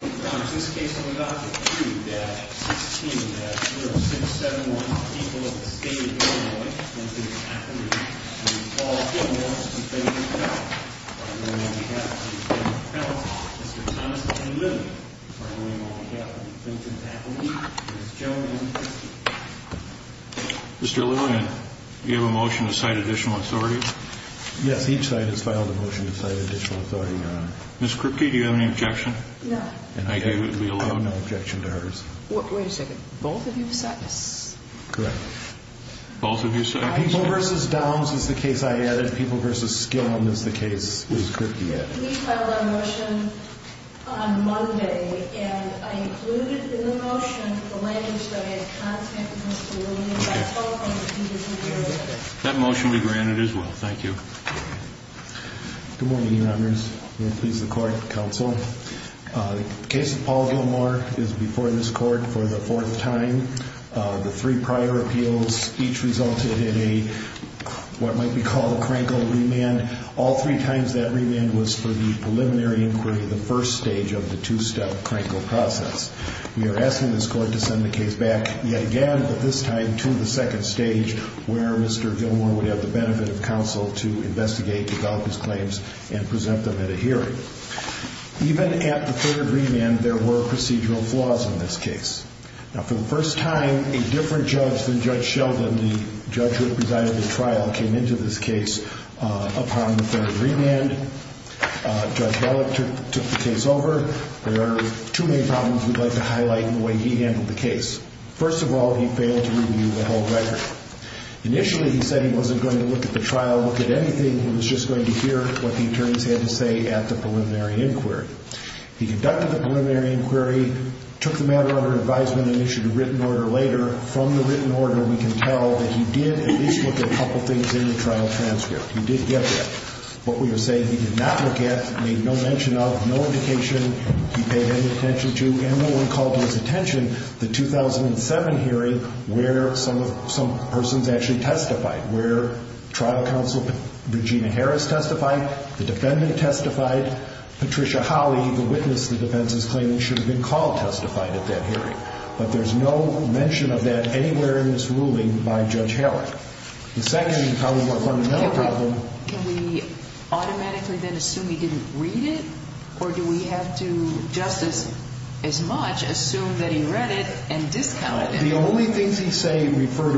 Mr. Lewin, you have a motion to cite additional authority? Yes, each side has filed a motion to cite additional authority, Your Honor. Ms. Krupke, do you have any objection? No. I have no objection to hers. Wait a second. Both of you have sentenced? Correct. Both of you have sentenced? People v. Downs is the case I added. People v. Skillam is the case Ms. Krupke added. We filed a motion on Monday and I included in the motion the language that I had constantly told Mr. Lewin and Ms. Krupke. Okay. That motion will be granted as well. Mr. Lewin. Mr. Lewin. Mr. Lewin. Mr. Lewin. Mr. Lewin. Mr. Lewin. Mr. Lewin. I have one enigmatic question for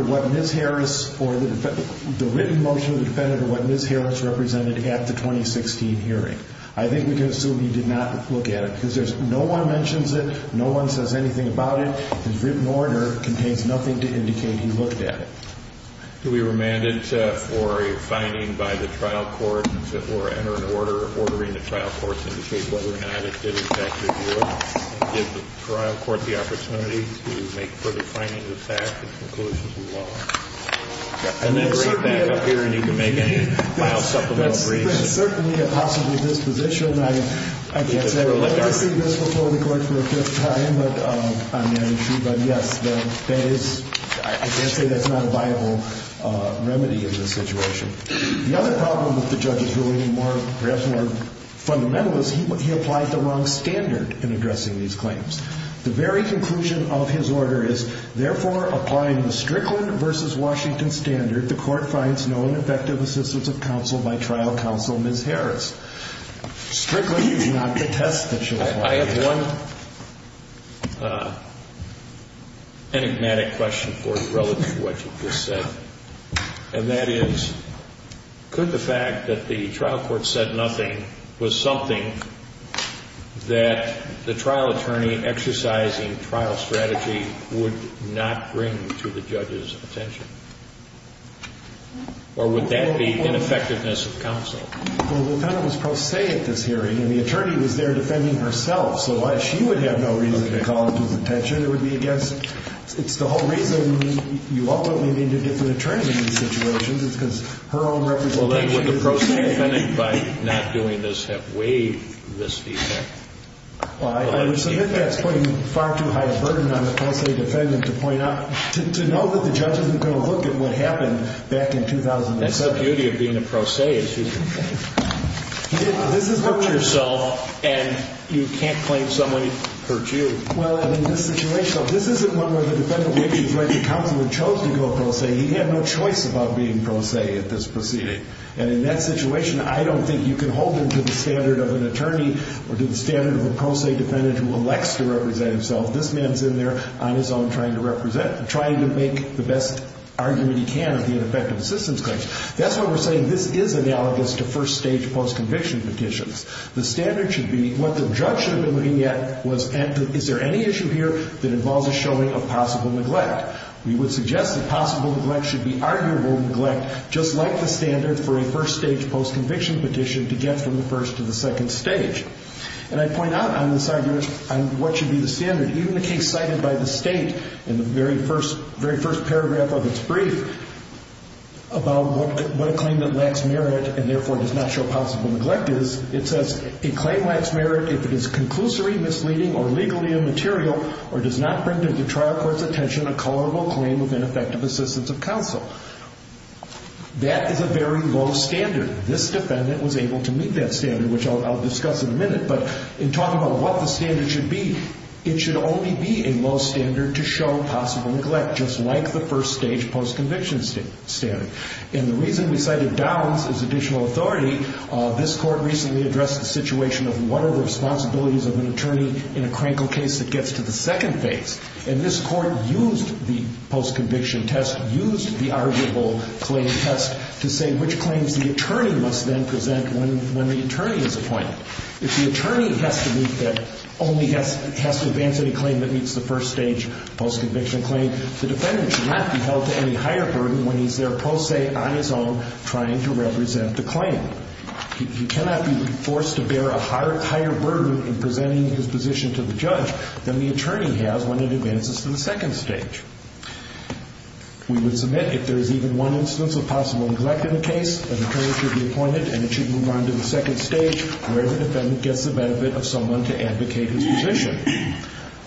you relative to what you just said, and that is, could the fact that the trial court said nothing was something that the trial attorney exercising trial strategy would not bring to the judge's attention, or would that be ineffectiveness of counsel? Well, the defendant was pro se at this hearing, and the attorney was there defending herself, so why she would have no reason to call it to his attention. It would be against, it's the whole reason you ultimately need a different attorney in these situations. It's because her own representation is there. Well, then would the pro se defendant, by not doing this, have waived this fee check? Well, I would submit that's putting far too high a burden on the pro se defendant to point out, to know that the judge isn't going to look at what happened back in 2007. That's the beauty of being a pro se, is you can hurt yourself, and you can't claim someone hurt you. Well, and in this situation, this isn't one where the defendant waived his right to counsel and chose to go pro se. He had no choice about being pro se at this proceeding. And in that situation, I don't think you can hold him to the standard of an attorney, or to the standard of a pro se defendant who elects to represent himself. This man's in there on his own, trying to represent, trying to make the best argument he can of the ineffective assistance claims. That's why we're saying this is analogous to first-stage post-conviction petitions. The standard should be, what the judge should have been looking at was, is there any issue here that involves a showing of possible neglect? We would suggest that possible neglect should be arguable neglect, just like the standard for a first-stage post-conviction petition to get from the first to the second stage. And I point out on this argument, on what should be the standard, even the case cited by the state in the very first paragraph of its brief about what a claim that lacks merit and therefore does not show possible neglect is, it says, a claim lacks merit if it is conclusory, misleading, or legally immaterial, or does not bring to the trial court's attention a colorable claim of ineffective assistance of counsel. That is a very low standard. This defendant was able to meet that standard, which I'll discuss in a minute. But in talking about what the standard should be, it should only be a low standard to show possible neglect, just like the first-stage post-conviction standard. And the reason we cited Downs as additional authority, this court recently addressed the situation of what are the responsibilities of an attorney in a crankle case that gets to the second phase. And this court used the post-conviction test, used the arguable claim test, to say which claims the attorney must then present when the attorney is appointed. If the attorney has to meet that, only has to advance any claim that meets the first-stage post-conviction claim, the defendant should not be held to any higher burden when he's there pro se on his own trying to represent the claim. He cannot be forced to bear a higher burden in presenting his position to the judge than the attorney has when it advances to the second stage. We would submit if there is even one instance of possible neglect in the case, an attorney should be appointed and it should move on to the second stage where the defendant gets the benefit of someone to advocate his position.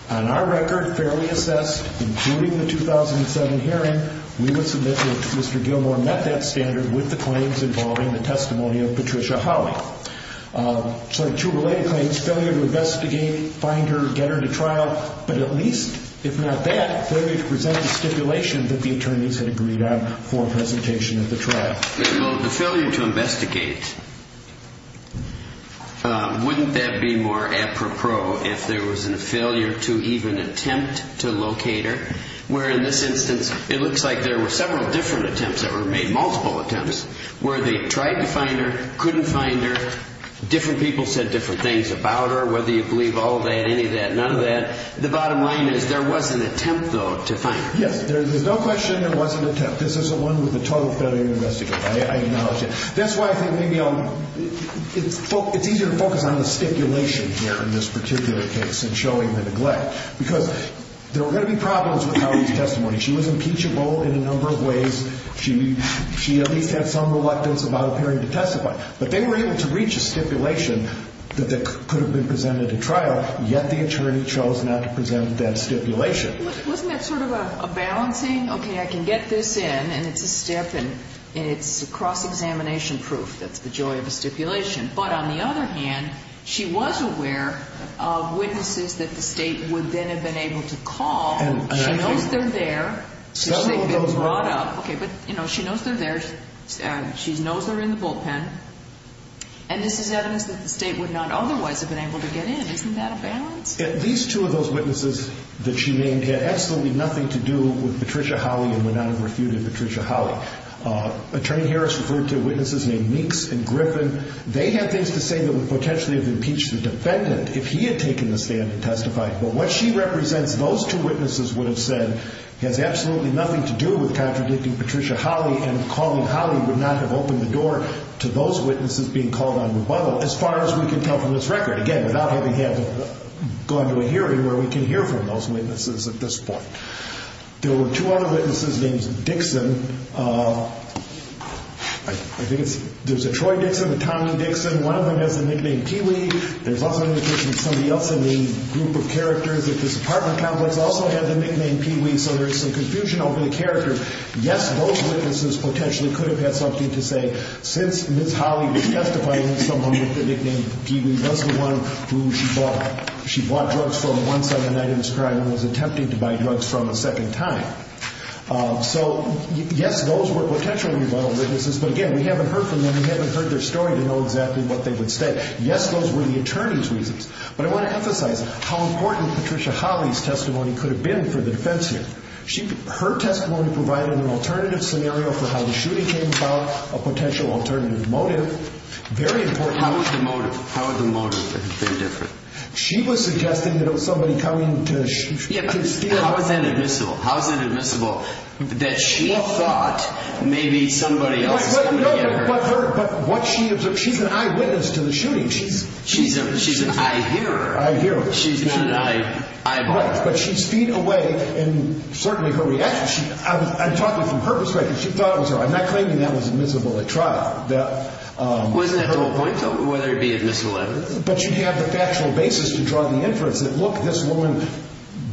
On our record, fairly assessed, including the 2007 hearing, we would submit that Mr. Gilmore met that standard with the claims involving the testimony of Patricia Howley. So two related claims, failure to investigate, find her, get her to trial, but at least, if not that, failure to present the stipulation that the attorneys had agreed on for presentation at the trial. Well, the failure to investigate, wouldn't that be more apropos if there was a failure to even attempt to locate her, where in this instance, it looks like there were several different attempts that were made, multiple attempts, where they tried to find her, couldn't find her, different people said different things about her, whether you believe all that, any of that, none of that. The bottom line is there was an attempt, though, to find her. Yes, there's no question there was an attempt. This isn't one with a total failure to investigate. I acknowledge that. That's why I think maybe it's easier to focus on the stipulation here in this particular case in showing the neglect, because there were going to be problems with Howley's testimony. She was impeachable in a number of ways. She at least had some reluctance about appearing to testify. But they were able to reach a stipulation that could have been presented at trial, yet the attorney chose not to present that stipulation. Wasn't that sort of a balancing? Okay, I can get this in, and it's a step, and it's cross-examination proof. That's the joy of a stipulation. But on the other hand, she was aware of witnesses that the state would then have been able to call. She knows they're there. She knows they're there. She knows they're in the bullpen. And this is evidence that the state would not otherwise have been able to get in. Isn't that a balance? At least two of those witnesses that she named had absolutely nothing to do with Patricia Howley and would not have refuted Patricia Howley. Attorney Harris referred to witnesses named Meeks and Griffin. They had things to say that would potentially have impeached the defendant if he had taken the stand and testified. But what she represents, those two witnesses would have said, has absolutely nothing to do with contradicting Patricia Howley, and calling Howley would not have opened the door to those witnesses being called on rebuttal, as far as we can tell from this record. Again, without having had to go into a hearing where we can hear from those witnesses at this point. There were two other witnesses named Dixon. I think it's, there's a Troy Dixon, a Tommy Dixon. One of them has the nickname Peewee. There's also an indication that somebody else in the group of characters at this apartment complex also had the nickname Peewee. So there's some confusion over the character. Yes, those witnesses potentially could have had something to say since Ms. Howley was someone who she bought drugs from once on the night of this crime and was attempting to buy drugs from a second time. So yes, those were potentially rebuttal witnesses. But again, we haven't heard from them. We haven't heard their story to know exactly what they would say. Yes, those were the attorney's reasons. But I want to emphasize how important Patricia Howley's testimony could have been for the defense here. Her testimony provided an alternative scenario for how the shooting came about, a potential alternative motive. Very important. How was the motive? How was the motive? Very different. She was suggesting that it was somebody coming to steal. How is that admissible? How is it admissible that she thought maybe somebody else was coming to get her? But what she observed, she's an eyewitness to the shooting. She's an eye-hearer. Eye-hearer. She's an eye-watcher. But she's feet away and certainly her reaction, I'm talking from her perspective, she thought it was her. I'm not claiming that was admissible at trial. Wasn't at the whole point though, whether it be admissible or not? But she'd have the factual basis to draw the inference that, look, this woman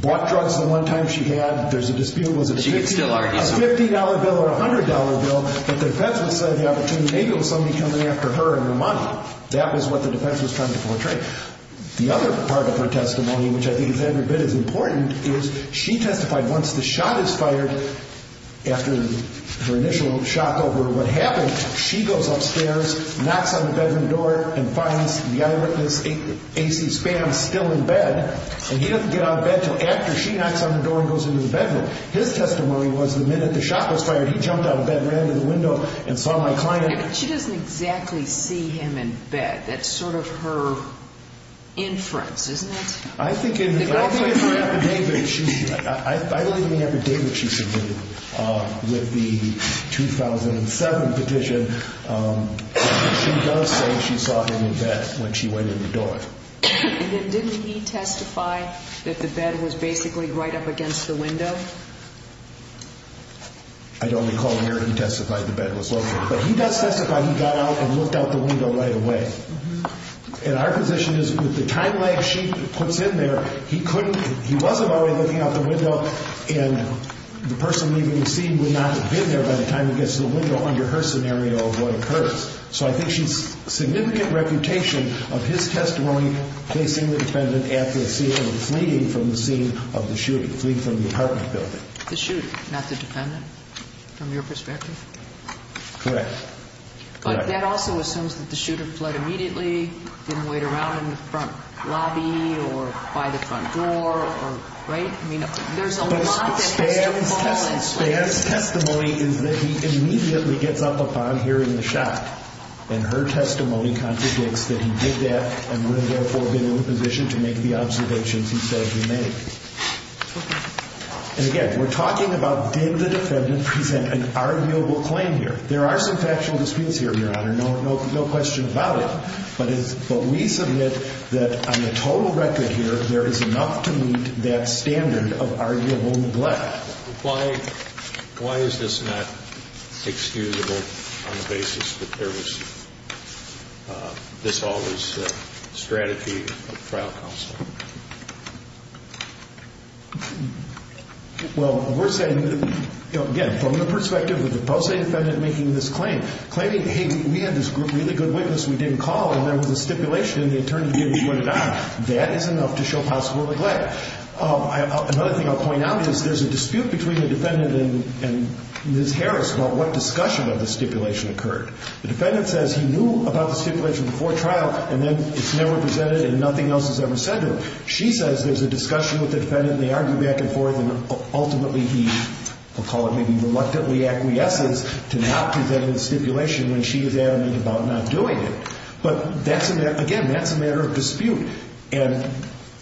bought drugs the one time she had. There's a dispute. Was it a $50 bill or a $100 bill? But the defense would say the opportunity, maybe it was somebody coming after her and her money. That was what the defense was trying to portray. The other part of her testimony, which I think is every bit as important, is she testified once the shot is fired, after her initial shock over what happened, she goes upstairs, knocks on the bedroom door and finds the eyewitness, A.C. Spam, still in bed. And he doesn't get out of bed until after she knocks on the door and goes into the bedroom. His testimony was the minute the shot was fired, he jumped out of bed, ran to the window and saw my client. She doesn't exactly see him in bed. That's sort of her inference, isn't it? I think in her affidavit, I believe in the affidavit she submitted with the 2007 petition, she does say she saw him in bed when she went in the door. And then didn't he testify that the bed was basically right up against the window? I don't recall where he testified the bed was located. But he does testify he got out and looked out the window right away. And our position is with the time lag she puts in there, he wasn't already looking out the window and the person leaving the scene would not have been there by the time he gets to the window under her scenario of what occurs. So I think she has a significant reputation of his testimony, placing the defendant at the scene and fleeing from the scene of the shooting, fleeing from the apartment building. The shooter, not the defendant, from your perspective? Correct. But that also assumes that the shooter fled immediately, didn't wait around in the front lobby or by the front door, right? But Spann's testimony is that he immediately gets up upon hearing the shot. And her testimony contradicts that he did that and would have therefore been in a position to make the observations he said he made. And again, we're talking about did the defendant present an arguable claim here. There are some factual disputes here, Your Honor. No question about it. But we submit that on the total record here, there is enough to meet that standard of arguable neglect. Why is this not excusable on the basis that there was this all was strategy of trial counsel? Well, we're saying, you know, again, from the perspective of the pro se defendant making this claim, claiming, hey, we had this really good witness, we didn't call, and there was a stipulation and they turned to me and we went on. That is enough to show possible neglect. Another thing I'll point out is there's a dispute between the defendant and Ms. Harris about what discussion of the stipulation occurred. The defendant says he knew about the stipulation before trial and then it's never presented and nothing else is ever said to them. She says there's a discussion with the defendant and they argue back and forth and ultimately he, we'll call it maybe reluctantly acquiesces to not presenting the stipulation when she was adamant about not doing it. But that's, again, that's a matter of dispute. And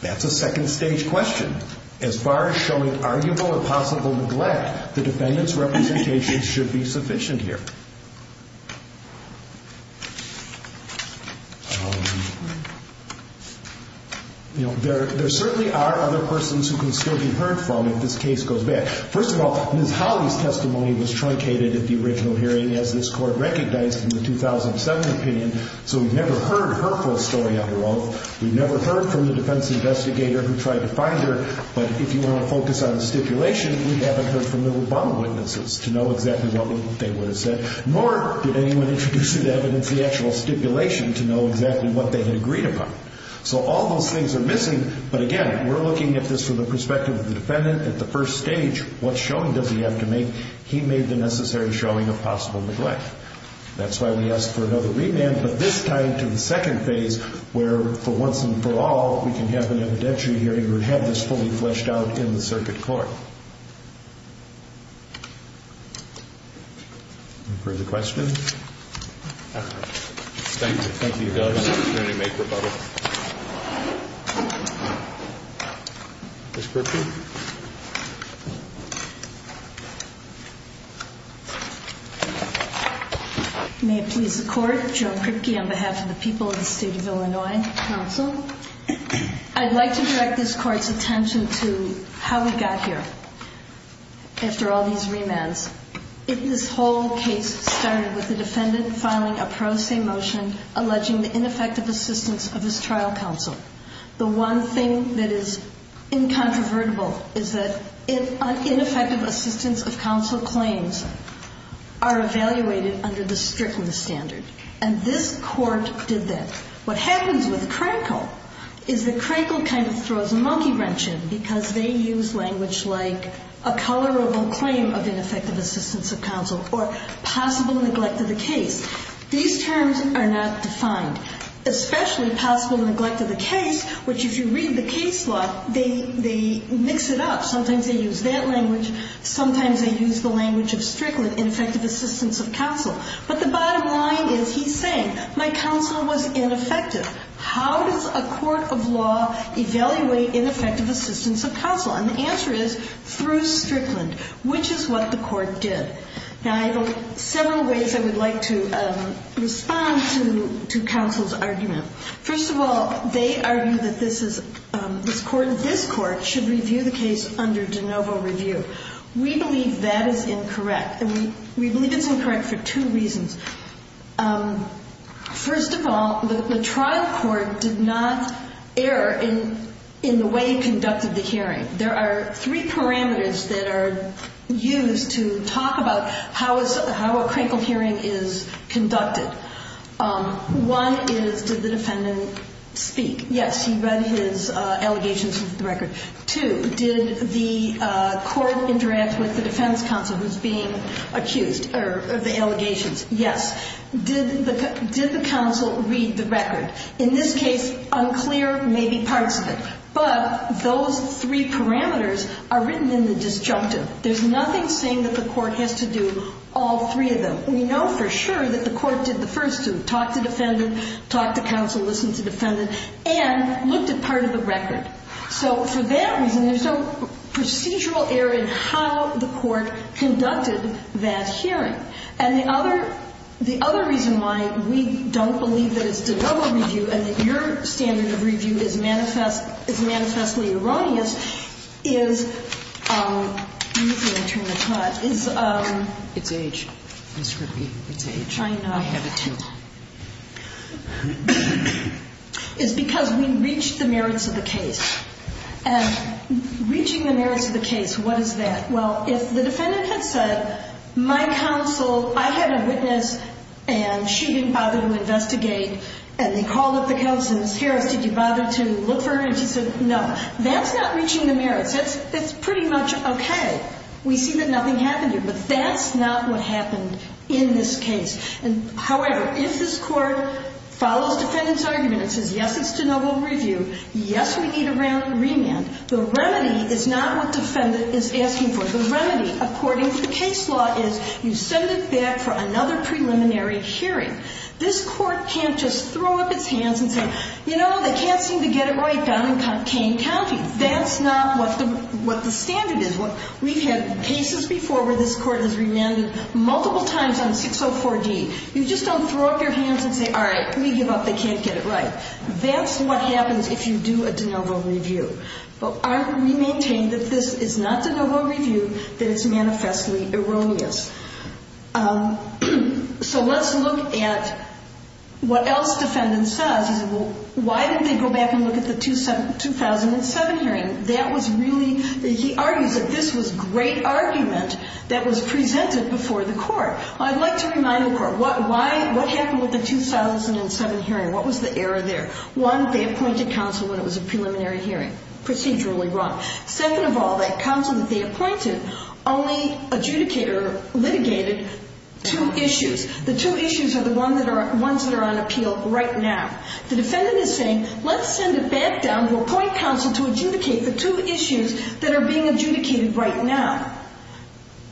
that's a second stage question. As far as showing arguable or possible neglect, the defendant's representation should be sufficient here. You know, there certainly are other persons who can still be heard from if this case goes bad. First of all, Ms. Hawley's testimony was truncated at the original hearing as this Court recognized in the 2007 opinion, so we've never heard her full story on her oath. We've never heard from the defense investigator who tried to find her, but if you want to focus on the stipulation, we haven't heard from the Obama witnesses to know exactly what they would have said. Nor did anyone introduce into evidence the actual stipulation to know exactly what they had agreed upon. So all those things are missing, but again, we're looking at this from the perspective of the defendant. At the first stage, what showing does he have to make? He made the necessary showing of possible neglect. That's why we asked for another revamp, but this time to the second phase, where for once and for all, we can have an evidentiary hearing or have this fully fleshed out in the circuit court. Any further questions? Thank you. Thank you for the opportunity to make rebuttal. Ms. Kripke? May it please the Court, Joan Kripke on behalf of the people of the State of Illinois Council. I'd like to direct this Court's attention to how we got here after all these remands. This whole case started with the defendant filing a pro se motion alleging the ineffective assistance of his trial counsel. The one thing that is incontrovertible is that ineffective assistance of counsel claims are evaluated under the strictness standard. And this Court did that. What happens with Krenkel is that Krenkel kind of throws a monkey wrench in, because they use language like a colorable claim of ineffective assistance of counsel or possible neglect of the case. These terms are not defined, especially possible neglect of the case, which if you read the case law, they mix it up. Sometimes they use that language. Sometimes they use the language of Strickland, ineffective assistance of counsel. But the bottom line is, he's saying, my counsel was ineffective. How does a court of law evaluate ineffective assistance of counsel? And the answer is, through Strickland, which is what the Court did. Now, I have several ways I would like to respond to counsel's argument. First of all, they argue that this Court should review the case under de novo review. We believe that is incorrect. We believe it's incorrect for two reasons. First of all, the trial court did not err in the way it conducted the hearing. There are three parameters that are used to talk about how a Krenkel hearing is conducted. One is, did the defendant speak? Yes, he read his allegations of the record. Two, did the court interact with the defense counsel who's being accused of the allegations? Yes. Did the counsel read the record? In this case, unclear may be parts of it. But those three parameters are written in the disjunctive. There's nothing saying that the court has to do all three of them. We know for sure that the court did the first two, talked to defendant, talked to counsel, listened to defendant, and looked at part of the record. So for that reason, there's no procedural error in how the court conducted that hearing. And the other reason why we don't believe that it's de novo review and that your standard of review is manifestly erroneous is, let me turn the page. It's age, Ms. Kripke. It's age. I know. I have it too. It's because we reached the merits of the case. And reaching the merits of the case, what is that? Well, if the defendant had said, my counsel, I had a witness, and she didn't bother to investigate, and they called up the counsel and said, Ms. Harris, did you bother to look for her? And she said, no. That's not reaching the merits. That's pretty much okay. We see that nothing happened here. But that's not what happened in this case. However, if this court follows defendant's argument and says, yes, it's de novo review, yes, we need a remand, the remedy is not what defendant is asking for. The remedy, according to the case law, is you send it back for another preliminary hearing. This court can't just throw up its hands and say, you know, they can't seem to get it right down in Kane County. That's not what the standard is. We've had cases before where this court has remanded multiple times on 604-D. You just don't throw up your hands and say, all right, we give up. They can't get it right. That's what happens if you do a de novo review. But we maintain that this is not de novo review, that it's manifestly erroneous. So let's look at what else defendant says. Why didn't they go back and look at the 2007 hearing? That was really, he argues that this was great argument that was presented before the court. I'd like to remind the court, what happened with the 2007 hearing? What was the error there? One, they appointed counsel when it was a preliminary hearing. Procedurally wrong. Second of all, that counsel that they appointed only adjudicated or litigated two issues. The two issues are the ones that are on appeal right now. The defendant is saying, let's send it back down to appoint counsel to adjudicate the two issues that are being adjudicated right now.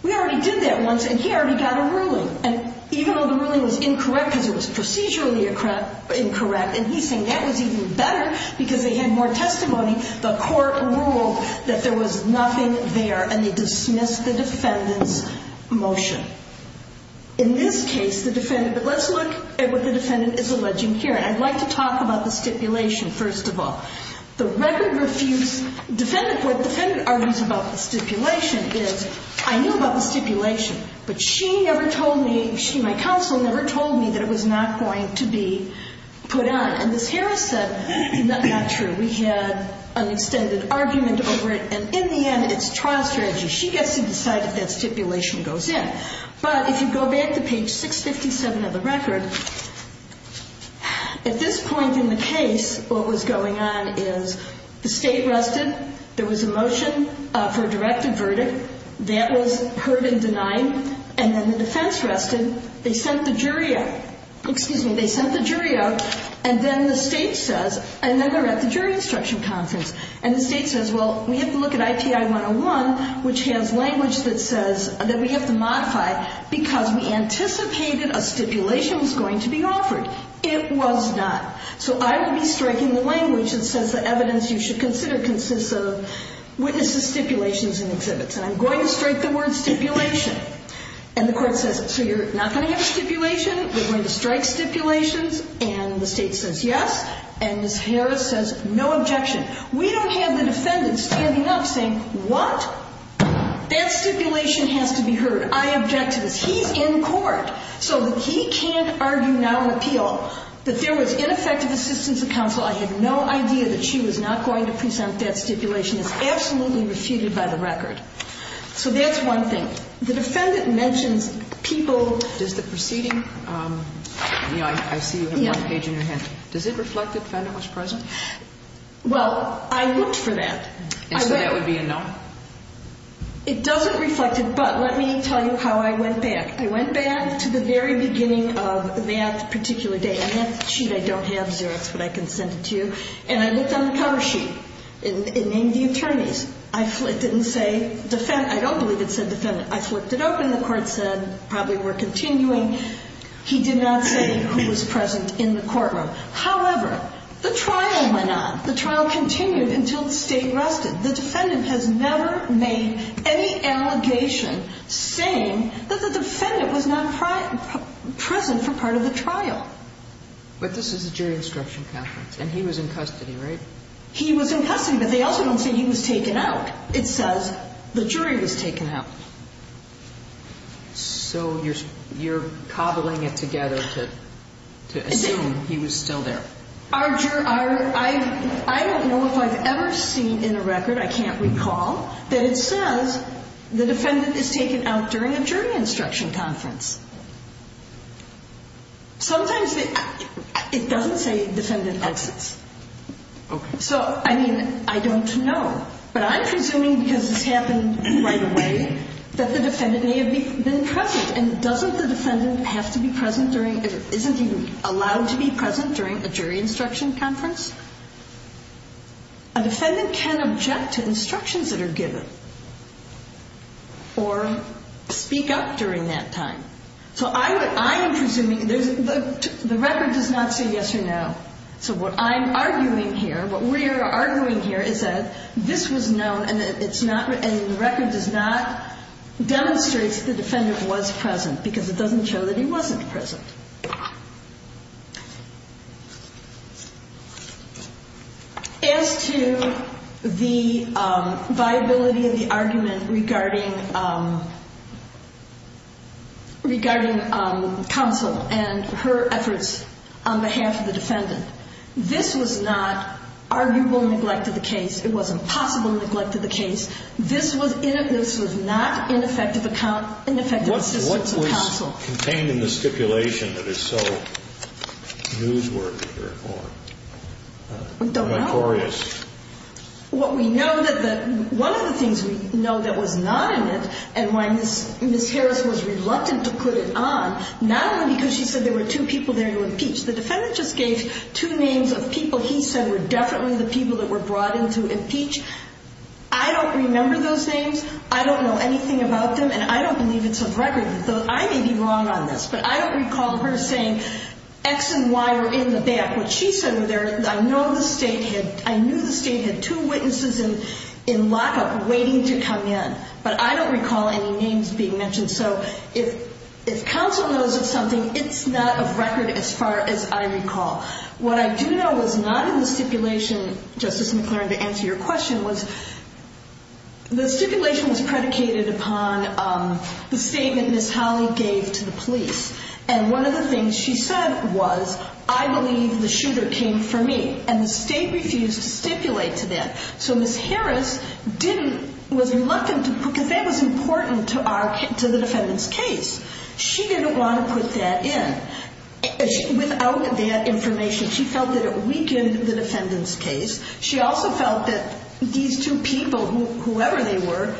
We already did that once, and he already got a ruling. And even though the ruling was incorrect because it was procedurally incorrect, and he's saying that was even better because they had more testimony, the court ruled that there was nothing there, and they dismissed the defendant's motion. In this case, the defendant, but let's look at what the defendant is alleging here. And I'd like to talk about the stipulation, first of all. The record refutes, what the defendant argues about the stipulation is, I knew about the stipulation, but she never told me, my counsel never told me that it was not going to be put on. And as Harris said, it's not true. We had an extended argument over it, and in the end, it's trial strategy. She gets to decide if that stipulation goes in. But if you go back to page 657 of the record, at this point in the case, what was going on is, the state rested, there was a motion for a directive verdict, that was heard and denied, and then the defense rested, they sent the jury out, excuse me, they sent the jury out, and then the state says, and then they're at the jury instruction conference, and the state says, well, we have to look at IPI 101, which has language that says, that we have to modify, because we anticipated a stipulation was going to be offered. It was not. So I will be striking the language that says, the evidence you should consider consists of witnesses' stipulations and exhibits, and I'm going to strike the word stipulation. And the court says, so you're not going to have a stipulation, we're going to strike stipulations, and the state says yes, and Ms. Harris says, no objection. We don't have the defendant standing up saying, what? That stipulation has to be heard. I object to this. He's in court. So that he can't argue now an appeal, that there was ineffective assistance of counsel, I had no idea that she was not going to present that stipulation, and that stipulation is absolutely refuted by the record. So that's one thing. The defendant mentions people. Does the proceeding, you know, I see you have one page in your hand. Does it reflect the defendant was present? Well, I looked for that. And so that would be a no? It doesn't reflect it, but let me tell you how I went back. I went back to the very beginning of that particular day. I have the sheet. I don't have Xerox, but I can send it to you. And I looked on the cover sheet. It named the attorneys. I flipped it and say defendant. I don't believe it said defendant. I flipped it open. The court said probably we're continuing. He did not say who was present in the courtroom. However, the trial went on. The trial continued until the state rested. The defendant has never made any allegation saying that the defendant was not present for part of the trial. But this is a jury instruction conference. And he was in custody, right? He was in custody, but they also don't say he was taken out. It says the jury was taken out. So you're cobbling it together to assume he was still there. I don't know if I've ever seen in a record, I can't recall, that it says the defendant is taken out during a jury instruction conference. Sometimes it doesn't say defendant exits. So, I mean, I don't know. But I'm presuming because this happened right away that the defendant may have been present. And doesn't the defendant have to be present during, isn't even allowed to be present during a jury instruction conference? A defendant can object to instructions that are given or speak up during that time. So I am presuming, the record does not say yes or no. So what I'm arguing here, what we are arguing here, is that this was known and the record does not demonstrate that the defendant was present because it doesn't show that he wasn't present. As to the viability of the argument regarding regarding counsel and her efforts on behalf of the defendant, this was not arguable neglect of the case. It wasn't possible neglect of the case. This was not ineffective assistance of counsel. What was contained in the stipulation that is so newsworthy or notorious? We don't know. What we know, one of the things we know that was not in it and why Ms. Harris was reluctant to put it on, not only because she said there were two people there to impeach. The defendant just gave two names of people he said were definitely the people that were brought in to impeach. I don't remember those names. I don't know anything about them and I don't believe it's a record. I may be wrong on this, but I don't recall her saying X and Y are in the back. What she said there, I know the state had, I knew the state had two witnesses in lockup waiting to come in. But I don't recall any names being mentioned. So if counsel knows of something, it's not a record as far as I recall. What I do know was not in the stipulation, Justice McClern, to answer your question, was the stipulation was predicated upon the statement Ms. Holley gave to the police. And one of the things she said was, I believe the shooter came for me. And the state refused to stipulate to them. So Ms. Harris didn't, was reluctant to, because that was important to the defendant's case. She didn't want to put that in. Without that information, she felt that it weakened the defendant's case. She also felt that these two people, whoever they were.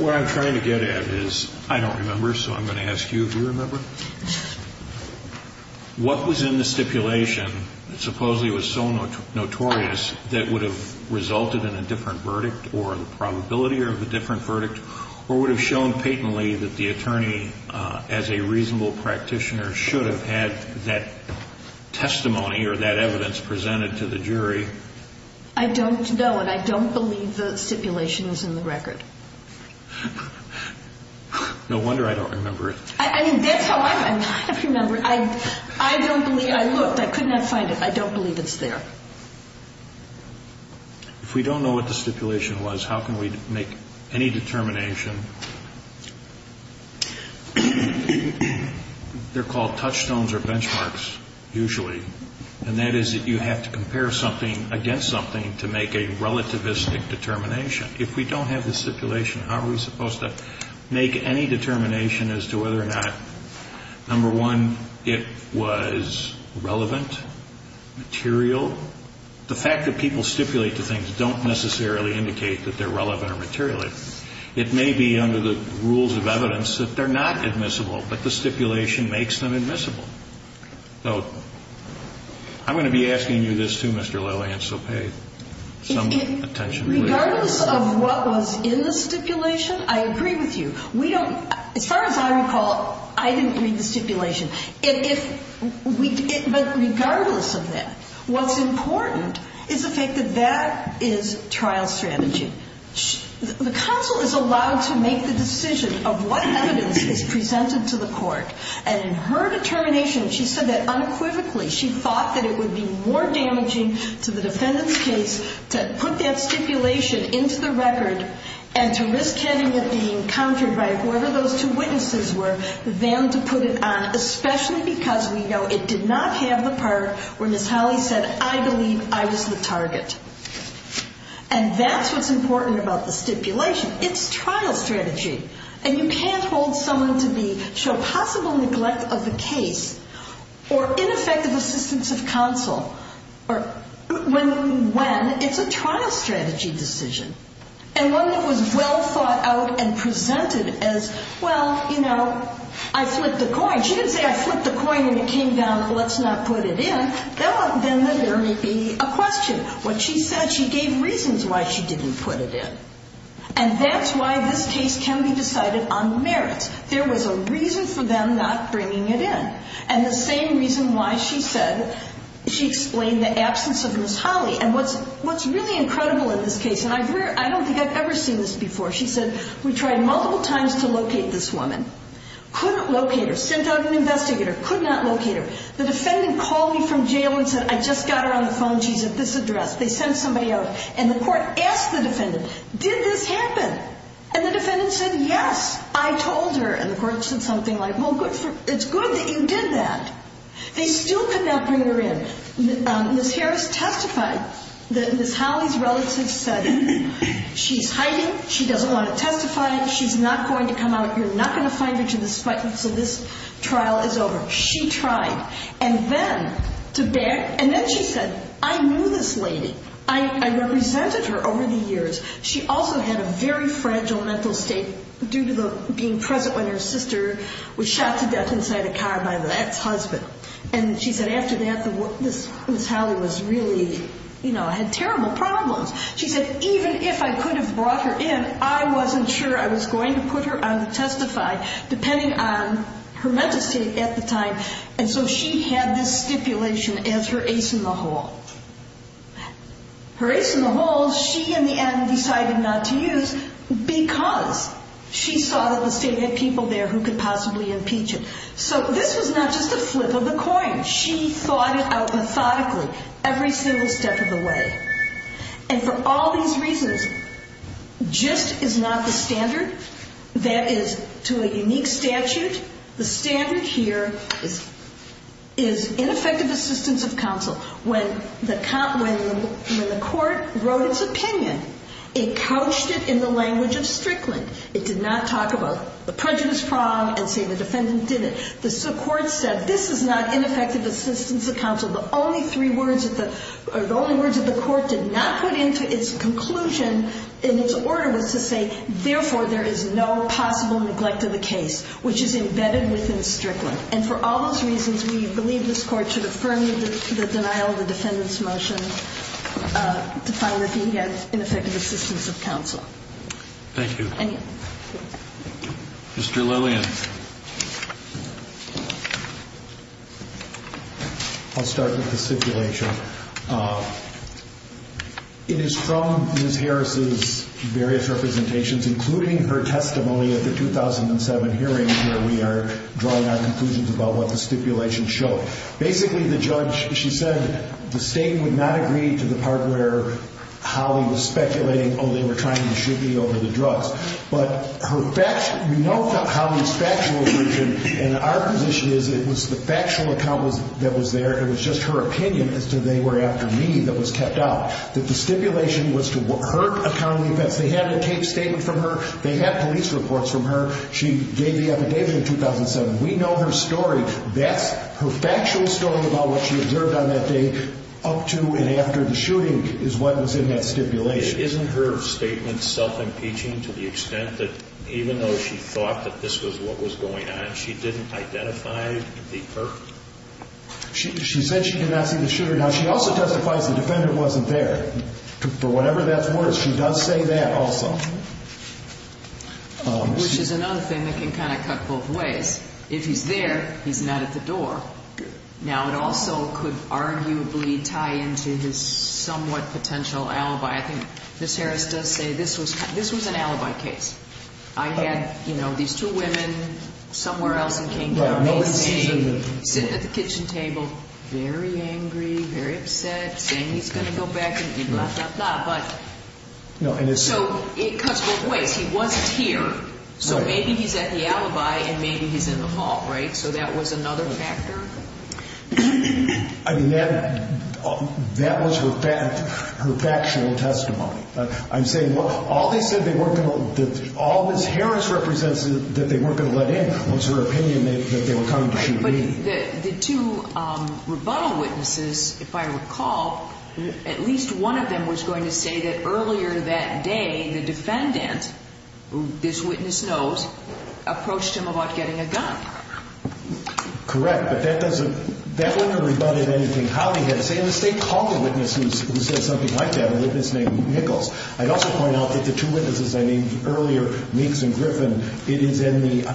What I'm trying to get at is, I don't remember, so I'm going to ask you if you remember. What was in the stipulation that supposedly was so notorious that would have resulted in a different verdict, or the probability of a different verdict, or would have shown patently that the attorney, as a reasonable practitioner, should have had that testimony, or that evidence presented to the jury? I don't know, and I don't believe the stipulation is in the record. No wonder I don't remember it. I mean, that's how I remember it. I don't believe, I looked, I could not find it. I don't believe it's there. If we don't know what the stipulation was, how can we make any determination? They're called touchstones or benchmarks, usually, and that is that you have to compare something against something to make a relativistic determination. If we don't have the stipulation, how are we supposed to make any determination as to whether or not, number one, it was relevant, material? The fact that people stipulate the things don't necessarily indicate that they're relevant or material. It may be under the rules of evidence that they're not admissible, but the stipulation makes them admissible. So I'm going to be asking you this, too, Mr. Lilley, and so pay some attention. Regardless of what was in the stipulation, I agree with you. As far as I recall, I didn't read the stipulation. But regardless of that, what's important is the fact that that is trial strategy. The counsel is allowed to make the decision of what evidence is presented to the court, and in her determination, she said that unequivocally, she thought that it would be more damaging to the defendant's case to put that stipulation into the record and to risk having it being countered by whoever those two witnesses were than to put it on, especially because we know it did not have the part where Ms. Holley said, I believe I was the target. And that's what's important about the stipulation. It's trial strategy. And you can't hold someone to be, show possible neglect of the case, or ineffective assistance of counsel, when it's a trial strategy decision. And one that was well thought out and presented as, well, you know, I flipped a coin. She didn't say, I flipped a coin and it came down, let's not put it in. Then there may be a question. What she said, she gave reasons why she didn't put it in. And that's why this case can be decided on merits. There was a reason for them not bringing it in. And the same reason why she said, she explained the absence of Ms. Holley. And what's really incredible in this case, and I don't think I've ever seen this before, she said, we tried multiple times to locate this woman. Couldn't locate her. Sent out an investigator. Could not locate her. The defendant called me from jail and said, I just got her on the phone. She's at this address. They sent somebody out. And the court asked the defendant, did this happen? And the defendant said, yes, I told her. And the court said something like, well, it's good that you did that. They still could not bring her in. Ms. Harris testified that Ms. Holley's relative said, she's hiding. She doesn't want to testify. She's not going to come out. You're not going to find her. So this trial is over. She tried. And then she said, I knew this lady. I represented her over the years. She also had a very fragile mental state due to being present when her sister was shot to death inside a car by the ex-husband. And she said, after that, Ms. Holley had terrible problems. She said, even if I could have brought her in, I wasn't sure I was going to put her on the testify, depending on her mental state at the time. And so she had this stipulation as her ace in the hole. Her ace in the hole, she in the end decided not to use because she saw that the state had people there who could possibly impeach it. So this was not just a flip of the coin. She thought it out methodically every single step of the way. And for all these reasons, just is not the standard. That is, to a unique statute, the standard here is ineffective assistance of counsel. When the court wrote its opinion, it couched it in the language of Strickland. It did not talk about the prejudice prong and say the defendant did it. The court said, this is not ineffective assistance of counsel. The only words that the court did not put into its conclusion in its order was to say, therefore, there is no possible neglect of the case, which is embedded within Strickland. And for all those reasons, we believe this court should affirm the denial of the defendant's motion to find that he had ineffective assistance of counsel. Thank you. Mr. Lillian. I'll start with the stipulation. It is from Ms. Harris' various representations, including her testimony at the 2007 hearing where we are drawing our conclusions about what the stipulation showed. Basically, the judge, she said, the state would not agree to the part where Holly was speculating they were trying to shoot me over the drugs. But we know Holly's factual position and our position is it was the factual account that was there and it was just her opinion as to they were after me that was kept out. That the stipulation was to hurt accountable offense. They had a case statement from her. They had police reports from her. She gave the affidavit in 2007. We know her story. That's her factual story about what she observed on that day up to and after the shooting is what was in that stipulation. Isn't her statement self-impeaching to the extent that even though she thought that this was what was going on, she didn't identify the hurt? She said she did not see the shooter. Now, she also testifies the defendant wasn't there. For whatever that's worth, she does say that also. Which is another thing that can kind of cut both ways. If he's there, he's not at the door. Now, it also could arguably tie into his somewhat potential alibi. I think Ms. Harris does say this was an alibi case. I had these two women somewhere else in King County. Sitting at the kitchen table, very angry, very upset, saying he's going to go back. It cuts both ways. He wasn't here, so maybe he's at the alibi and maybe he's in the hall. That was another factor? That was her factual testimony. All Ms. Harris represents was her opinion that they were coming to shoot me. The two rebuttal witnesses, if I recall, at least one of them was going to say that earlier that day the defendant, who this witness knows, approached him about getting a gun. Correct, but that wouldn't have rebutted anything. In the state, call the witness who said something like that, a witness named Nichols. I'd also point out that the two witnesses I named earlier, Meeks and Griffin, it is in the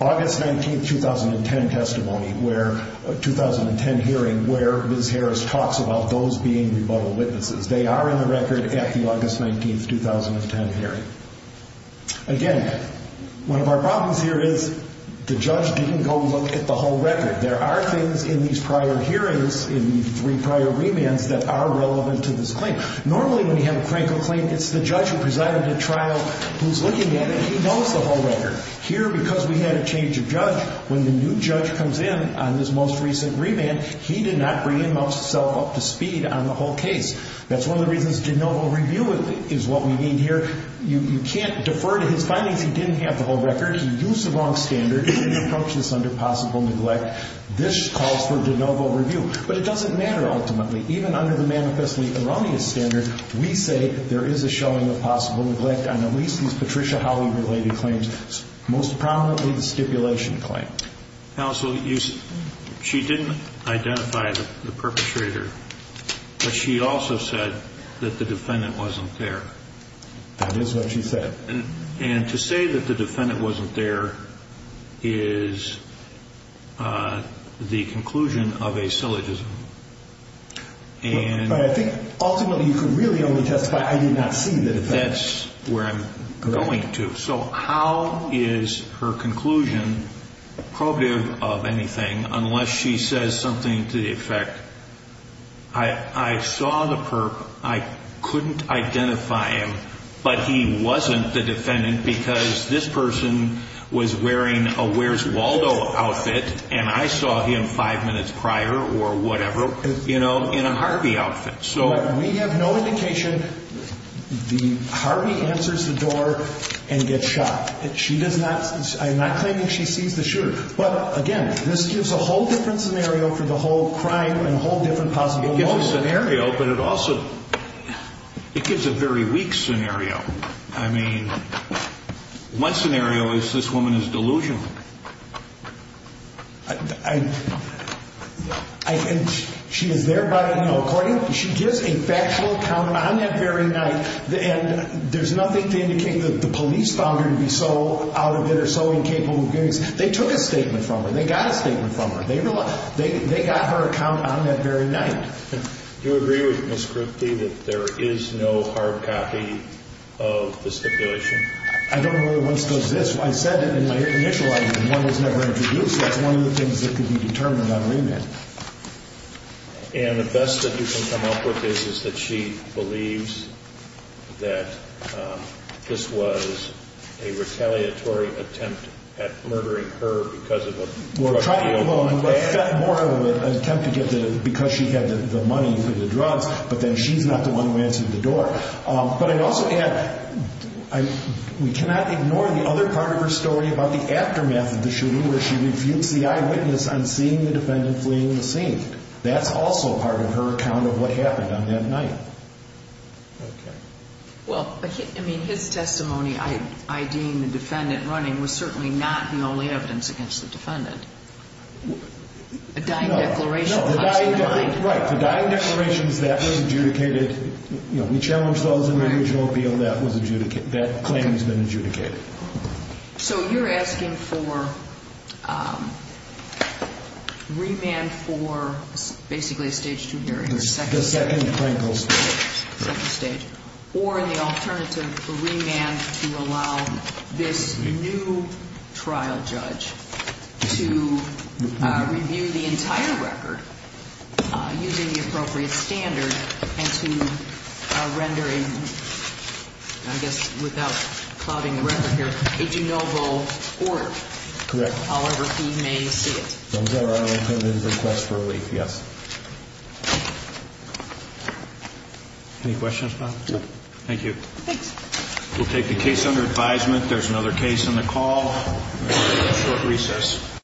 August 19, 2010 hearing where Ms. Harris talks about those being rebuttal witnesses. They are in the record at the August 19, 2010 hearing. Again, one of our problems here is the judge didn't go look at the whole record. There are things in these prior hearings, in the three prior remands that are relevant to this claim. Normally, when you have a crankle claim, it's the judge who presided at trial who's looking at it. He knows the whole record. Here, because we had a change of judge, when the new judge comes in on this most recent remand, he did not bring himself up to speed on the whole case. That's one of the reasons de novo review is what we need here. You can't defer to his findings. Because he didn't have the whole record, he used the wrong standard and he approached this under possible neglect, this calls for de novo review. But it doesn't matter, ultimately. Even under the manifestly erroneous standard, we say there is a showing of possible neglect on at least these Patricia Holley-related claims, most prominently the stipulation claim. Counsel, she didn't identify the perpetrator, but she also said that the defendant wasn't there. That is what she said. And to say that the defendant wasn't there is the conclusion of a syllogism. But I think ultimately, you could really only testify, I did not see the defendant. That's where I'm going to. So how is her conclusion probative of anything unless she says something to the effect I saw the perp, I couldn't identify him, but he wasn't the defendant because this person was wearing a Where's Waldo outfit and I saw him five minutes prior or whatever in a Harvey outfit. We have no indication. Harvey answers the door and gets shot. I'm not claiming she sees the shooter. But again, this gives a whole different scenario for the whole crime and whole different possibility. It gives a scenario, but it also gives a very weak scenario. I mean, one scenario is this woman is delusional. I... She is there by... She gives a factual account on that very night and there's nothing to indicate that the police found her to be so out of it or so incapable of giving... They took a statement from her. They got a statement from her. They got her account on that very night. Do you agree with Ms. Cripty that there is no hard copy of the stipulation? I don't know that one still exists. I said it in my initial argument. One was never introduced. That's one of the things that can be determined on remand. And the best that you can come up with is that she believes that this was a retaliatory attempt at murdering her because of a drug deal. Well, trying to get the woman, but more of an attempt to get the... because she had the money for the drugs. But then she's not the one who answered the door. But I'd also add, we cannot ignore the other part of her story about the aftermath of the shooting where she refutes the eyewitness on seeing the defendant fleeing the scene. That's also part of her account of what happened on that night. Well, I mean, his testimony IDing the defendant running was certainly not the only evidence against the defendant. A dying declaration? Right. The dying declarations, that was adjudicated. We challenged those in the original appeal. That claim has been adjudicated. So you're asking for remand for basically a stage 2 hearing? The second stage. Or the alternative for remand to allow this new trial judge to review the entire record using the appropriate standard and to render a I guess without clouding the record here a de novo court. Correct. However he may see it. Yes. Any questions, Bob? Thank you. Thanks. We'll take the case under advisement. There's another case on the call. Short recess.